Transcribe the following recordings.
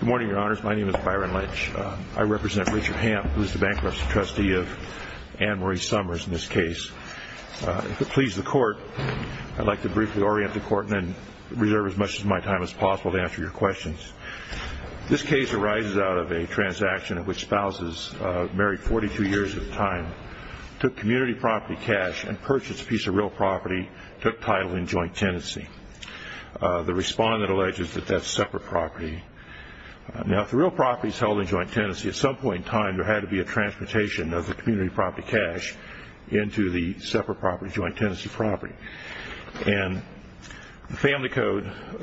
Good morning, your honors. My name is Byron Lynch. I represent Richard Hamp, who is the bankruptcy trustee of Ann Marie Summers in this case. If it pleases the court, I'd like to briefly orient the court and then reserve as much of my time as possible to answer your questions. This case arises out of a transaction in which spouses, married 42 years at a time, took community property cash and purchased a piece of real property and took title in joint tenancy. The respondent alleges that that's separate property. Now, if the real property is held in joint tenancy, at some point in time there had to be a transportation of the community property cash into the separate property joint tenancy property. And the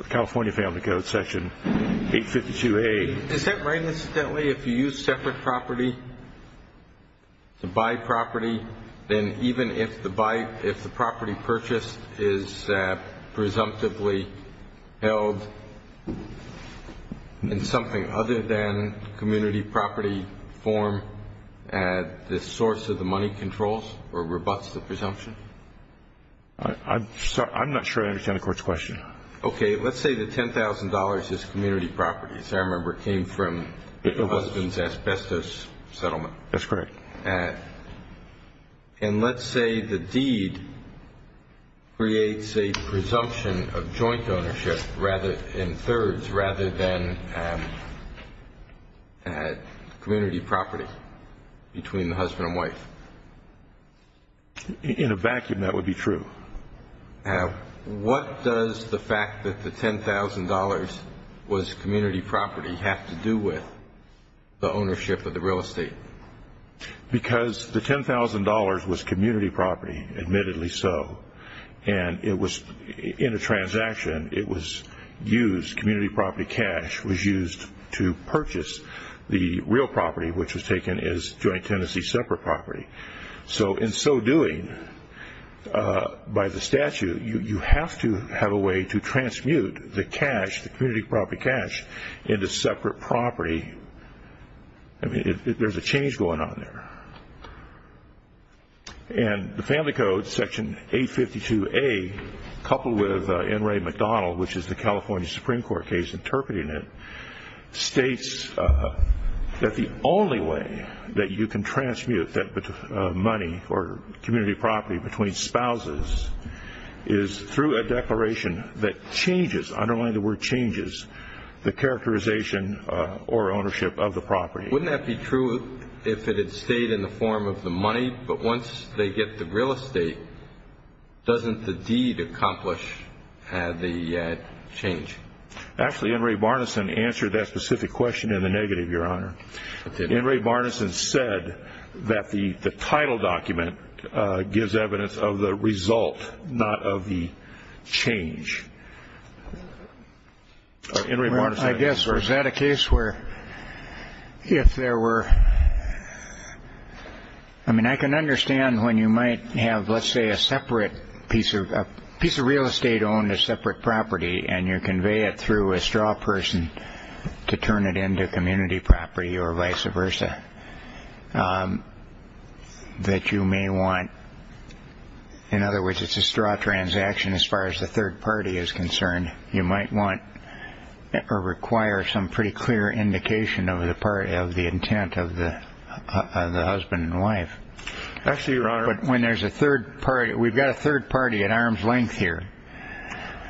California Family Code, Section 852A. Is that right, incidentally, if you use separate property to buy property, then even if the property purchased is presumptively held in something other than community property form, the source of the money controls or rebutts the presumption? I'm not sure I understand the court's question. Okay. Let's say the $10,000 is community property. I remember it came from the husband's asbestos settlement. That's correct. And let's say the deed creates a presumption of joint ownership in thirds rather than community property between the husband and wife. In a vacuum, that would be true. Now, what does the fact that the $10,000 was community property have to do with the ownership of the real estate? Because the $10,000 was community property, admittedly so, and it was in a transaction. It was used, community property cash was used to purchase the real property, which was taken as joint tenancy separate property. In so doing, by the statute, you have to have a way to transmute the cash, the community property cash, into separate property. There's a change going on there. And the Family Code, Section 852A, coupled with N. Ray McDonald, which is the California Supreme Court case interpreting it, states that the only way that you can transmute that money or community property between spouses is through a declaration that changes, I don't like the word changes, the characterization or ownership of the property. Wouldn't that be true if it had stayed in the form of the money, but once they get the real estate, doesn't the deed accomplish the change? Actually, N. Ray Barnison answered that specific question in the negative, Your Honor. N. Ray Barnison said that the title document gives evidence of the result, not of the change. I mean, I can understand when you might have, let's say, a separate piece of real estate on a separate property, and you convey it through a straw person to turn it into community property or vice versa, that you may want, in other words, it's a straw transaction as far as the third party is concerned, you might want or require some pretty clear indication of the intent of the husband and wife. Actually, Your Honor. But when there's a third party, we've got a third party at arm's length here.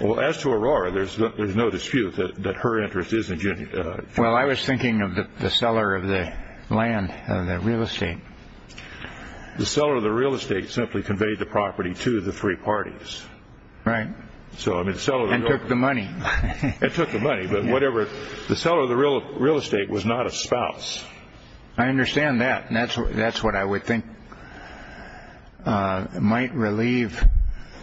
Well, as to Aurora, there's no dispute that her interest is in community property. Well, I was thinking of the seller of the land, of the real estate. The seller of the real estate simply conveyed the property to the three parties. Right. And took the money. And took the money, but whatever. The seller of the real estate was not a spouse. I understand that, and that's what I would think might relieve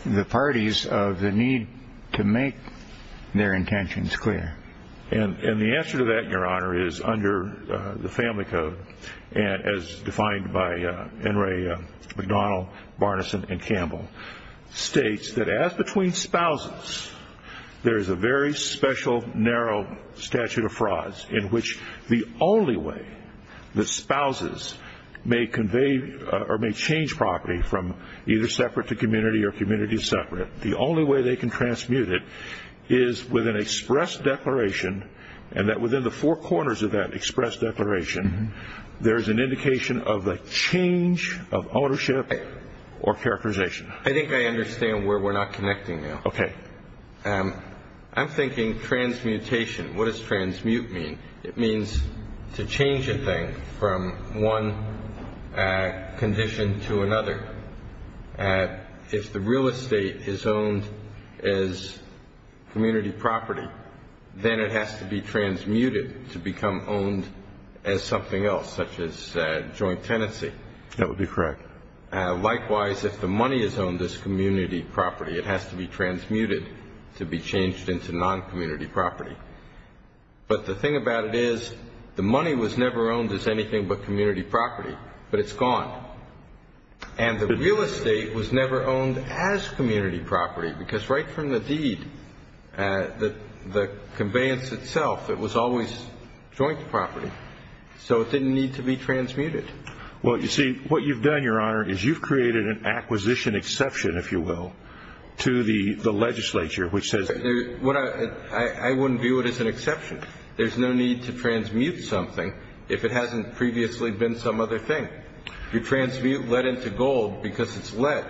the parties of the need to make their intentions clear. And the answer to that, Your Honor, is under the Family Code, as defined by Enri McDonald, Barnison, and Campbell, states that as between spouses, there's a very special, narrow statute of frauds in which the only way the spouses may convey or may change property from either separate to community or community to separate, the only way they can transmute it is with an express declaration, and that within the four corners of that express declaration, there's an indication of a change of ownership or characterization. I think I understand where we're not connecting now. Okay. I'm thinking transmutation. What does transmute mean? It means to change a thing from one condition to another. If the real estate is owned as community property, then it has to be transmuted to become owned as something else, such as joint tenancy. That would be correct. Likewise, if the money is owned as community property, it has to be transmuted to be changed into non-community property. But the thing about it is the money was never owned as anything but community property, but it's gone. And the real estate was never owned as community property because right from the deed, the conveyance itself, it was always joint property, so it didn't need to be transmuted. Well, you see, what you've done, Your Honor, is you've created an acquisition exception, if you will, to the legislature, which says — I wouldn't view it as an exception. There's no need to transmute something if it hasn't previously been some other thing. You transmute lead into gold because it's lead,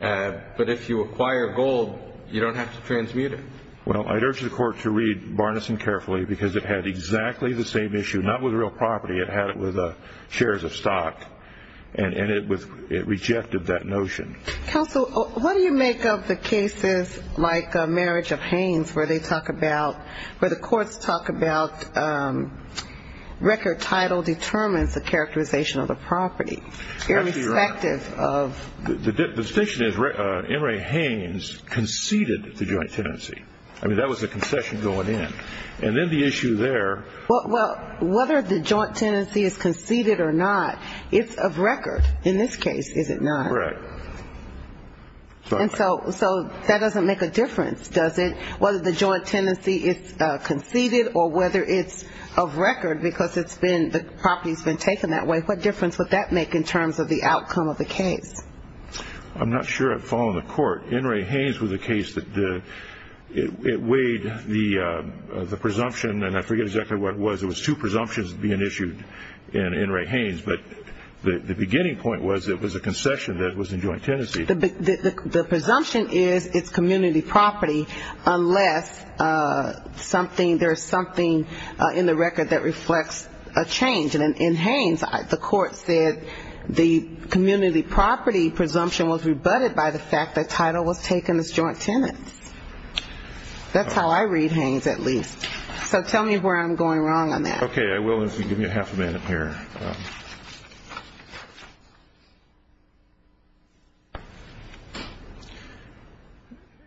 but if you acquire gold, you don't have to transmute it. Well, I'd urge the Court to read Barnison carefully because it had exactly the same issue, not with real property. It had it with shares of stock, and it rejected that notion. Counsel, what do you make of the cases like Marriage of Haines where they talk about — Actually, Your Honor, the distinction is M. Ray Haines conceded the joint tenancy. I mean, that was a concession going in. And then the issue there — Well, whether the joint tenancy is conceded or not, it's of record in this case, is it not? Right. And so that doesn't make a difference, does it, whether the joint tenancy is conceded or whether it's of record because it's been — What difference would that make in terms of the outcome of the case? I'm not sure it followed the Court. M. Ray Haines was a case that weighed the presumption, and I forget exactly what it was. It was two presumptions being issued in M. Ray Haines. But the beginning point was it was a concession that was in joint tenancy. The presumption is it's community property unless there is something in the record that reflects a change. And in Haines, the Court said the community property presumption was rebutted by the fact that title was taken as joint tenancy. That's how I read Haines, at least. So tell me where I'm going wrong on that. Okay, I will if you give me a half a minute here.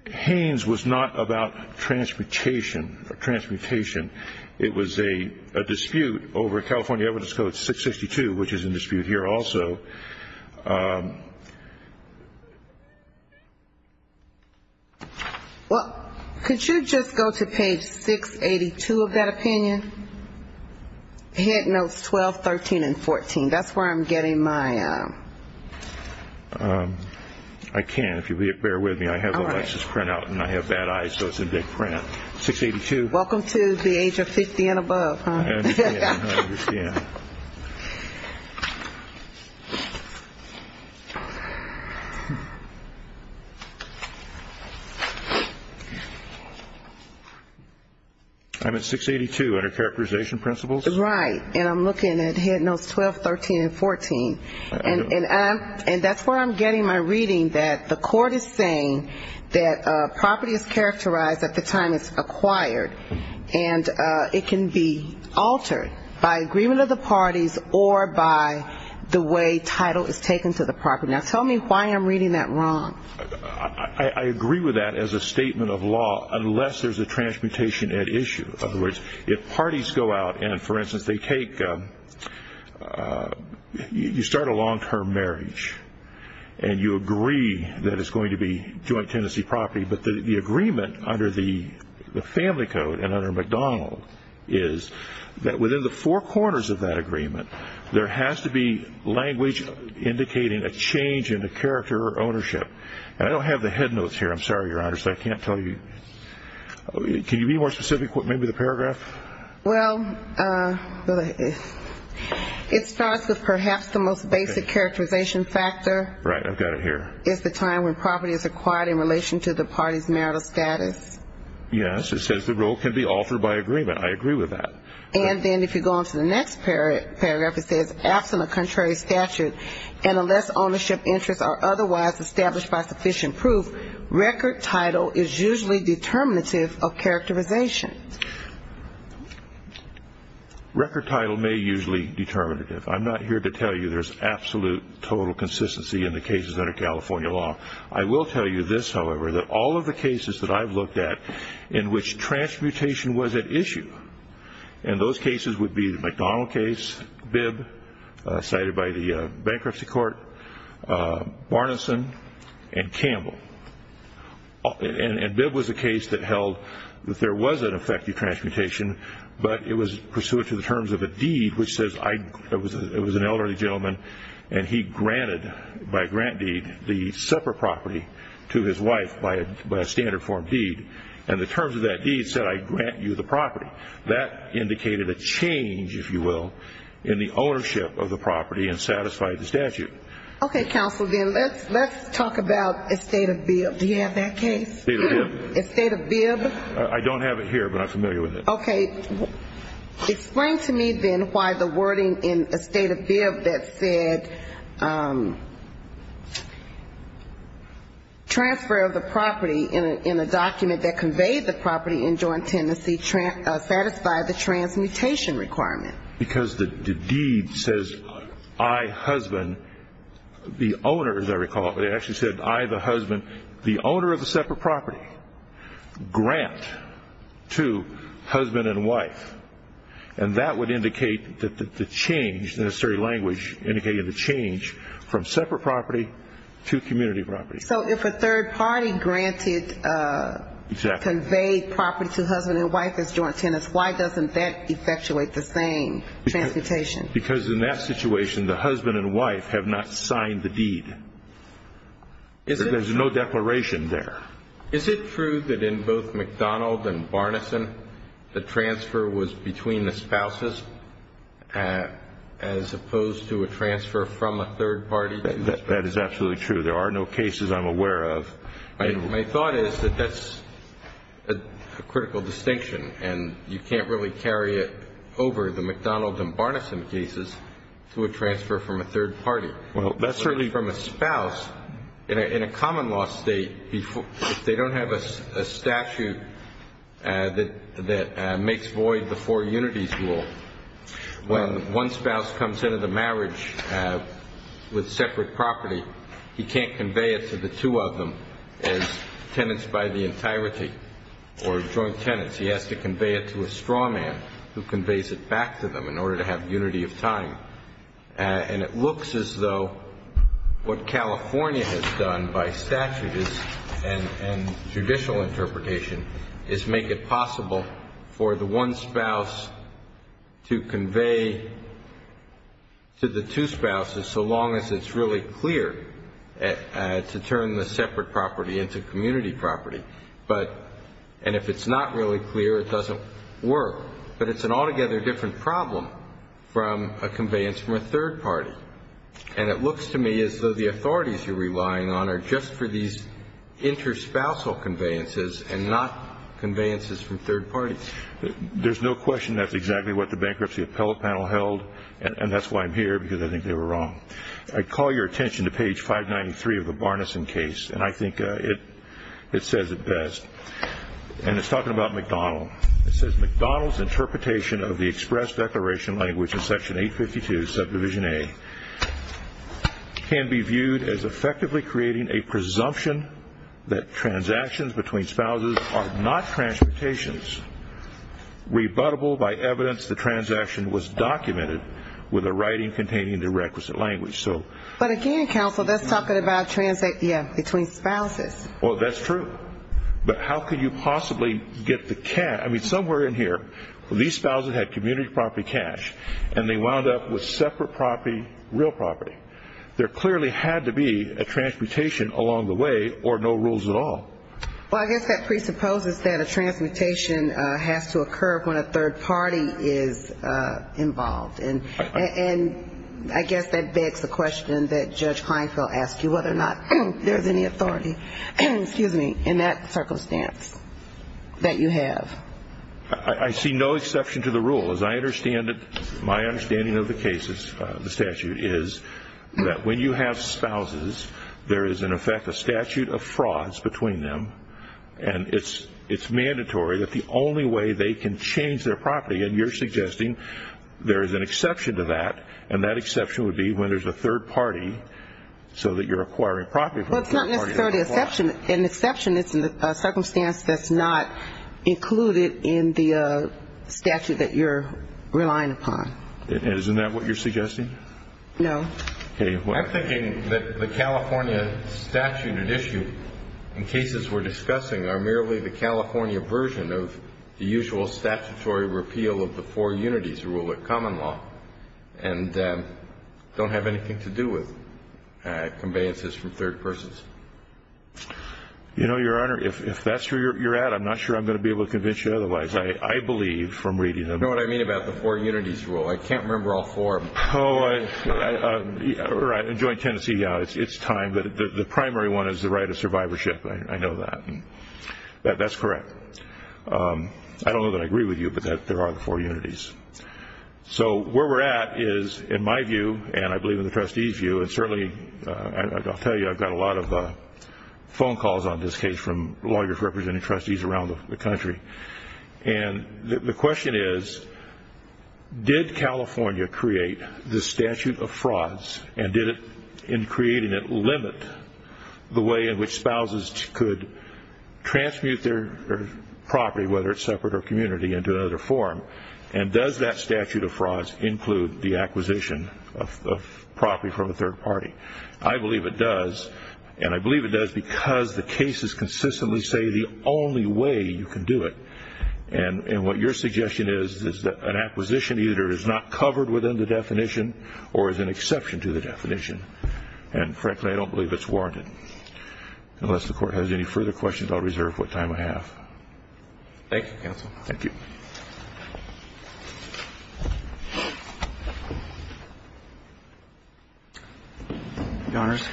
Haines was not about transportation or transmutation. It was a dispute over California Evidence Code 662, which is in dispute here also. Well, could you just go to page 682 of that opinion? Head notes 12, 13, and 14. That's where I'm getting my — I can't. If you'll bear with me, I have a license printout and I have bad eyes, so it's in big print. 682. Welcome to the age of 50 and above. I understand. I'm at 682 under characterization principles. Right. And I'm looking at head notes 12, 13, and 14. And that's where I'm getting my reading that the Court is saying that property is characterized at the time it's acquired, and it can be altered by agreement of the parties or by the way title is taken to the property. Now, tell me why I'm reading that wrong. I agree with that as a statement of law unless there's a transmutation at issue. In other words, if parties go out and, for instance, they take — you start a long-term marriage and you agree that it's going to be joint tenancy property, but the agreement under the Family Code and under McDonald is that within the four corners of that agreement, there has to be language indicating a change in the character or ownership. And I don't have the head notes here. I'm sorry, Your Honor, so I can't tell you. Can you be more specific with maybe the paragraph? Well, it starts with perhaps the most basic characterization factor. Right. I've got it here. It's the time when property is acquired in relation to the party's marital status. Yes. It says the role can be altered by agreement. I agree with that. And then if you go on to the next paragraph, it says, and unless ownership interests are otherwise established by sufficient proof, record title is usually determinative of characterization. Record title may usually be determinative. I'm not here to tell you there's absolute total consistency in the cases under California law. I will tell you this, however, that all of the cases that I've looked at in which transmutation was at issue, and those cases would be the McDonald case, Bibb, cited by the bankruptcy court, Barnison, and Campbell. And Bibb was a case that held that there was an effective transmutation, but it was pursuant to the terms of a deed, which says it was an elderly gentleman, and he granted by grant deed the separate property to his wife by a standard form deed. And the terms of that deed said, I grant you the property. That indicated a change, if you will, in the ownership of the property and satisfied the statute. Okay, counsel, then let's talk about estate of Bibb. Do you have that case? Estate of Bibb. Estate of Bibb. I don't have it here, but I'm familiar with it. Okay. Explain to me, then, why the wording in estate of Bibb that said transfer of the property in a document that conveyed the property in joint tenancy satisfied the transmutation requirement. Because the deed says I, husband, the owner, as I recall, but it actually said I, the husband, the owner of the separate property, grant to husband and wife. And that would indicate that the change, the necessary language indicated the change, from separate property to community property. So if a third party granted, conveyed property to husband and wife as joint tenants, why doesn't that effectuate the same transmutation? Because in that situation, the husband and wife have not signed the deed. There's no declaration there. Is it true that in both McDonald and Barnison, the transfer was between the spouses, as opposed to a transfer from a third party? That is absolutely true. There are no cases I'm aware of. My thought is that that's a critical distinction, and you can't really carry it over the McDonald and Barnison cases to a transfer from a third party. Well, that's certainly from a spouse. In a common law state, if they don't have a statute that makes void the four unities rule, when one spouse comes into the marriage with separate property, he can't convey it to the two of them as tenants by the entirety or joint tenants. He has to convey it to a straw man who conveys it back to them in order to have unity of time. And it looks as though what California has done by statute and judicial interpretation is make it possible for the one spouse to convey to the two spouses so long as it's really clear to turn the separate property into community property. And if it's not really clear, it doesn't work. But it's an altogether different problem from a conveyance from a third party. And it looks to me as though the authorities you're relying on are just for these interspousal conveyances and not conveyances from third parties. There's no question that's exactly what the bankruptcy appellate panel held, and that's why I'm here, because I think they were wrong. I call your attention to page 593 of the Barnison case, and I think it says it best. And it's talking about McDonald. It says McDonald's interpretation of the express declaration language in Section 852, Subdivision A, can be viewed as effectively creating a presumption that transactions between spouses are not transmutations rebuttable by evidence the transaction was documented with a writing containing the requisite language. But again, counsel, that's talking about between spouses. Well, that's true. But how could you possibly get the cash? I mean, somewhere in here, these spouses had community property cash, and they wound up with separate property, real property. There clearly had to be a transmutation along the way or no rules at all. Well, I guess that presupposes that a transmutation has to occur when a third party is involved. And I guess that begs the question that Judge Kleinfeld asked you, whether or not there's any authority in that circumstance that you have. I see no exception to the rule, as I understand it. My understanding of the case, the statute, is that when you have spouses, there is, in effect, a statute of frauds between them, and it's mandatory that the only way they can change their property, and you're suggesting there is an exception to that, and that exception would be when there's a third party so that you're acquiring property. Well, it's not necessarily an exception. An exception is a circumstance that's not included in the statute that you're relying upon. Isn't that what you're suggesting? No. I'm thinking that the California statute at issue in cases we're discussing are merely the California version of the usual statutory repeal of the four unities rule at common law and don't have anything to do with conveyances from third persons. You know, Your Honor, if that's where you're at, I'm not sure I'm going to be able to convince you otherwise. I believe from reading them. You know what I mean about the four unities rule? I can't remember all four of them. In joint tendency, yeah, it's time, but the primary one is the right of survivorship. I know that. That's correct. I don't know that I agree with you, but there are the four unities. So where we're at is, in my view, and I believe in the trustees' view, and certainly I'll tell you I've got a lot of phone calls on this case from lawyers representing trustees around the country, and the question is, did California create this statute of frauds and did it, in creating it, limit the way in which spouses could transmute their property, whether it's separate or community, into another form, and does that statute of frauds include the acquisition of property from a third party? I believe it does, and I believe it does because the cases consistently say the only way you can do it, and what your suggestion is is that an acquisition either is not covered within the definition or is an exception to the definition, and frankly, I don't believe it's warranted. Unless the court has any further questions, I'll reserve what time I have. Thank you, counsel. Thank you. Your Honors,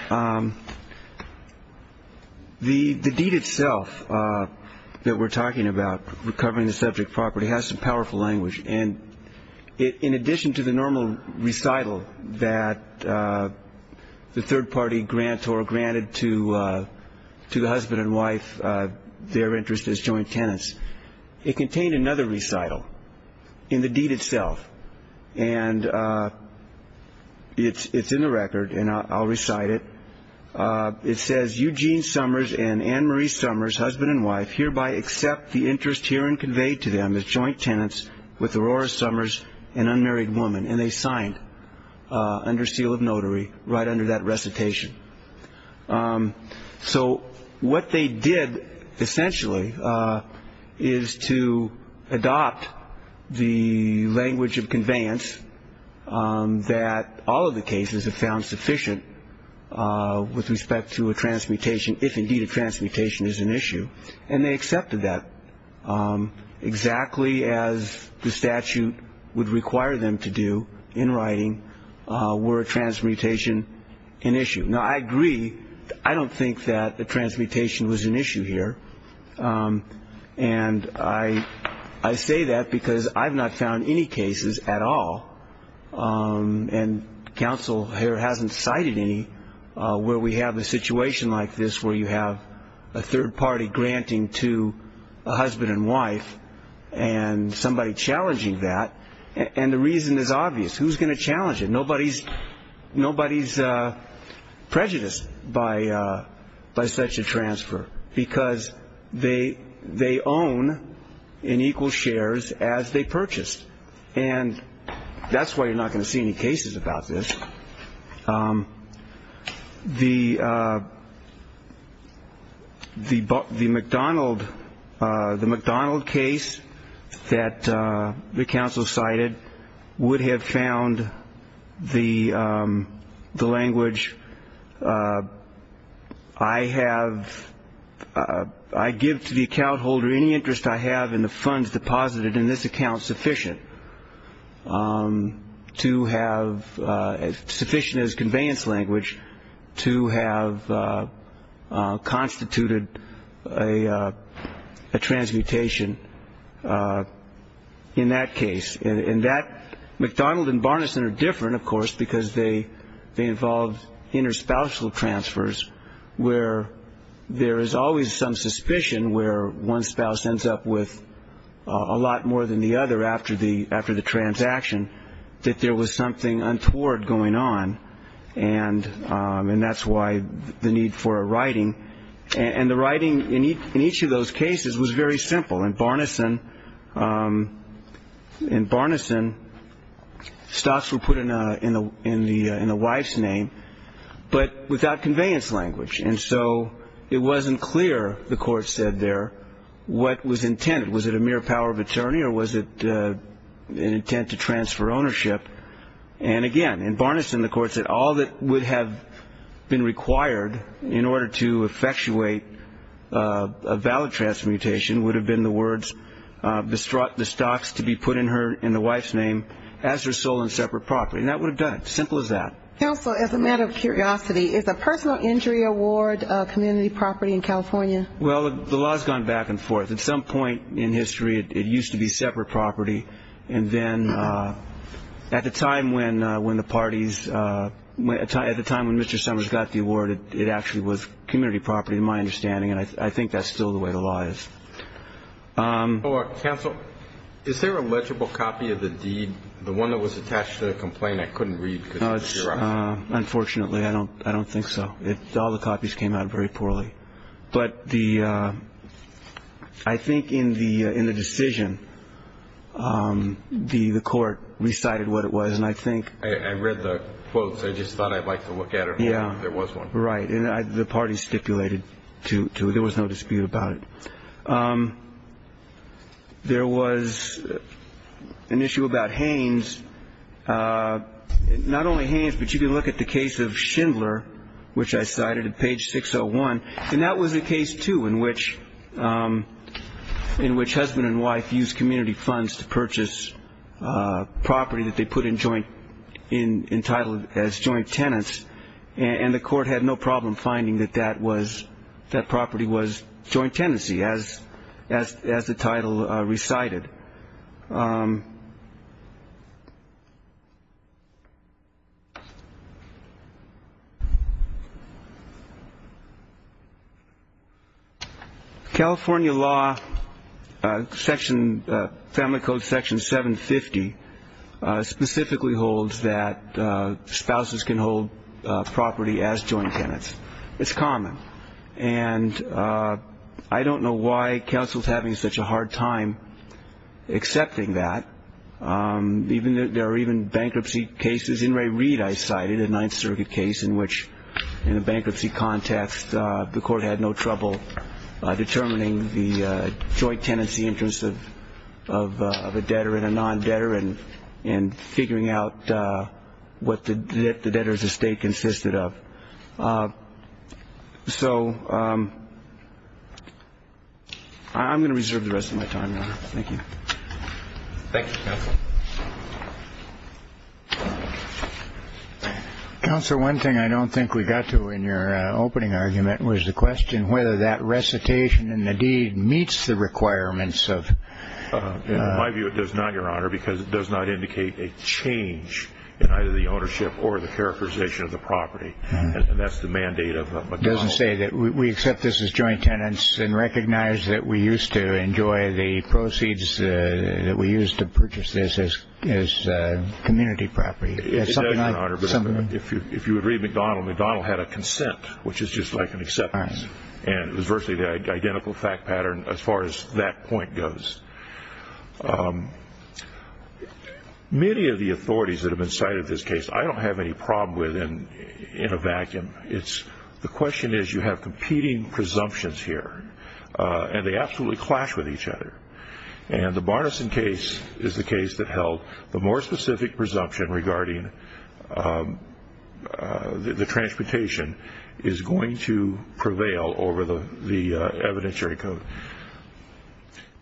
the deed itself that we're talking about, recovering the subject property, has some powerful language, and in addition to the normal recital that the third party grants or granted to the husband and wife their interest as joint tenants, it contained another recital in the deed itself, and it's in the record, and I'll recite it. It says, Eugene Summers and Anne Marie Summers, husband and wife, hereby accept the interest herein conveyed to them as joint tenants with Aurora Summers, an unmarried woman, and they signed under seal of notary right under that recitation. So what they did, essentially, is to adopt the language of conveyance that all of the cases have found sufficient with respect to a transmutation if indeed a transmutation is an issue, and they accepted that exactly as the statute would require them to do in writing were a transmutation an issue, Now, I agree. I don't think that the transmutation was an issue here, and I say that because I've not found any cases at all, and counsel here hasn't cited any where we have a situation like this where you have a third party granting to a husband and wife and somebody challenging that, and the reason is obvious. Who's going to challenge it? Nobody's prejudiced by such a transfer because they own in equal shares as they purchased, and that's why you're not going to see any cases about this. The McDonald case that the counsel cited would have found the language, I give to the account holder any interest I have in the funds deposited in this account sufficient to have sufficient as conveyance language to have constituted a transmutation in that case, and that McDonald and Barnison are different, of course, because they involve interspousal transfers where there is always some suspicion where one spouse ends up with a lot more than the other after the transaction that there was something untoward going on, and that's why the need for a writing, and the writing in each of those cases was very simple. In Barnison, stocks were put in the wife's name but without conveyance language, and so it wasn't clear, the court said there, what was intended. Was it a mere power of attorney or was it an intent to transfer ownership? And again, in Barnison, the court said all that would have been required in order to effectuate a valid transmutation would have been the words, the stocks to be put in the wife's name as her sole and separate property, and that would have done it, simple as that. Counsel, as a matter of curiosity, is a personal injury award a community property in California? Well, the law has gone back and forth. At some point in history, it used to be separate property, and then at the time when the parties, at the time when Mr. Summers got the award, it actually was community property in my understanding, and I think that's still the way the law is. Counsel, is there a legible copy of the deed, the one that was attached to the complaint I couldn't read? Unfortunately, I don't think so. All the copies came out very poorly. But I think in the decision, the court recited what it was, and I think... I read the quotes. I just thought I'd like to look at them. Yeah. There was one. Right. And the parties stipulated to it. There was no dispute about it. There was an issue about Haynes. Not only Haynes, but you can look at the case of Schindler, which I cited at page 601, and that was a case, too, in which husband and wife used community funds to purchase property that they put in joint, entitled as joint tenants, and the court had no problem finding that that property was joint tenancy, as the title recited. California law, section, family code section 750, specifically holds that spouses can hold property as joint tenants. It's common. And I don't know why counsel is having such a hard time accepting that. There are even bankruptcy cases. In Ray Reid, I cited, a Ninth Circuit case in which, in a bankruptcy context, the court had no trouble determining the joint tenancy interest of a debtor and a non-debtor and figuring out what the debtor's estate consisted of. So I'm going to reserve the rest of my time, Your Honor. Thank you. Thank you, counsel. Counsel, one thing I don't think we got to in your opening argument was the question whether that recitation in the deed meets the requirements of the law. In my view, it does not, Your Honor, because it does not indicate a change in either the ownership or the characterization of the property. And that's the mandate of McDonnell. It doesn't say that we accept this as joint tenants and recognize that we used to enjoy the proceeds that we used to purchase this as community property. It does, Your Honor, but if you would read McDonnell, McDonnell had a consent, which is just like an acceptance. And it was virtually the identical fact pattern as far as that point goes. Many of the authorities that have been cited in this case, I don't have any problem with in a vacuum. The question is you have competing presumptions here, and they absolutely clash with each other. And the Barnison case is the case that held the more specific presumption regarding the transportation is going to prevail over the evidentiary code.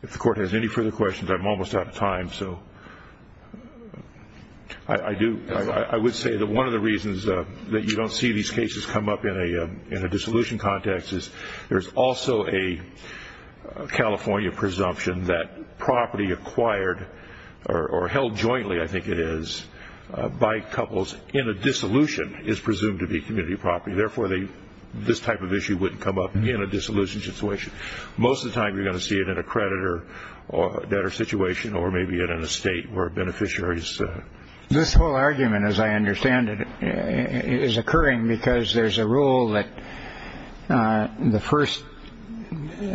If the Court has any further questions, I'm almost out of time. So I would say that one of the reasons that you don't see these cases come up in a dissolution context is there's also a California presumption that property acquired or held jointly, I think it is, by couples in a dissolution is presumed to be community property. Therefore, this type of issue wouldn't come up in a dissolution situation. Most of the time you're going to see it in a creditor debtor situation or maybe in an estate where beneficiaries. This whole argument, as I understand it, is occurring because there's a rule that the first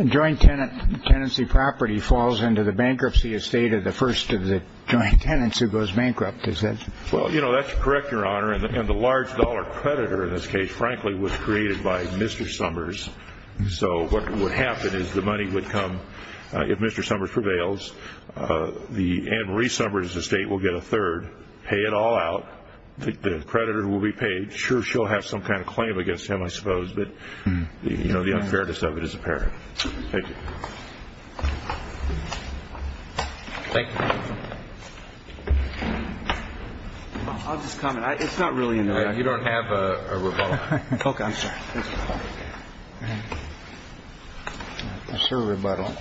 joint tenancy property falls into the bankruptcy estate of the first of the joint tenants who goes bankrupt. Well, you know, that's correct, Your Honor. And the large dollar creditor in this case, frankly, was created by Mr. Summers. So what would happen is the money would come, if Mr. Summers prevails, Ann Marie Summers' estate will get a third, pay it all out, the creditor will be paid. Sure, she'll have some kind of claim against him, I suppose, but the unfairness of it is apparent. Thank you. Thank you. I'll just comment. It's not really in there. You don't have a rebuttal. OK, sir. Sir, rebuttal.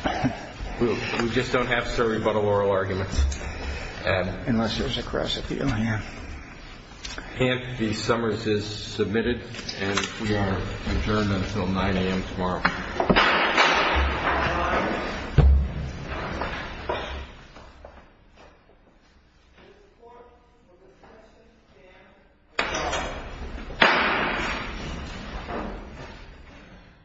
We just don't have sir rebuttal oral arguments. Unless there's a cross appeal. And the Summers is submitted. And we are adjourned until 9 a.m. tomorrow.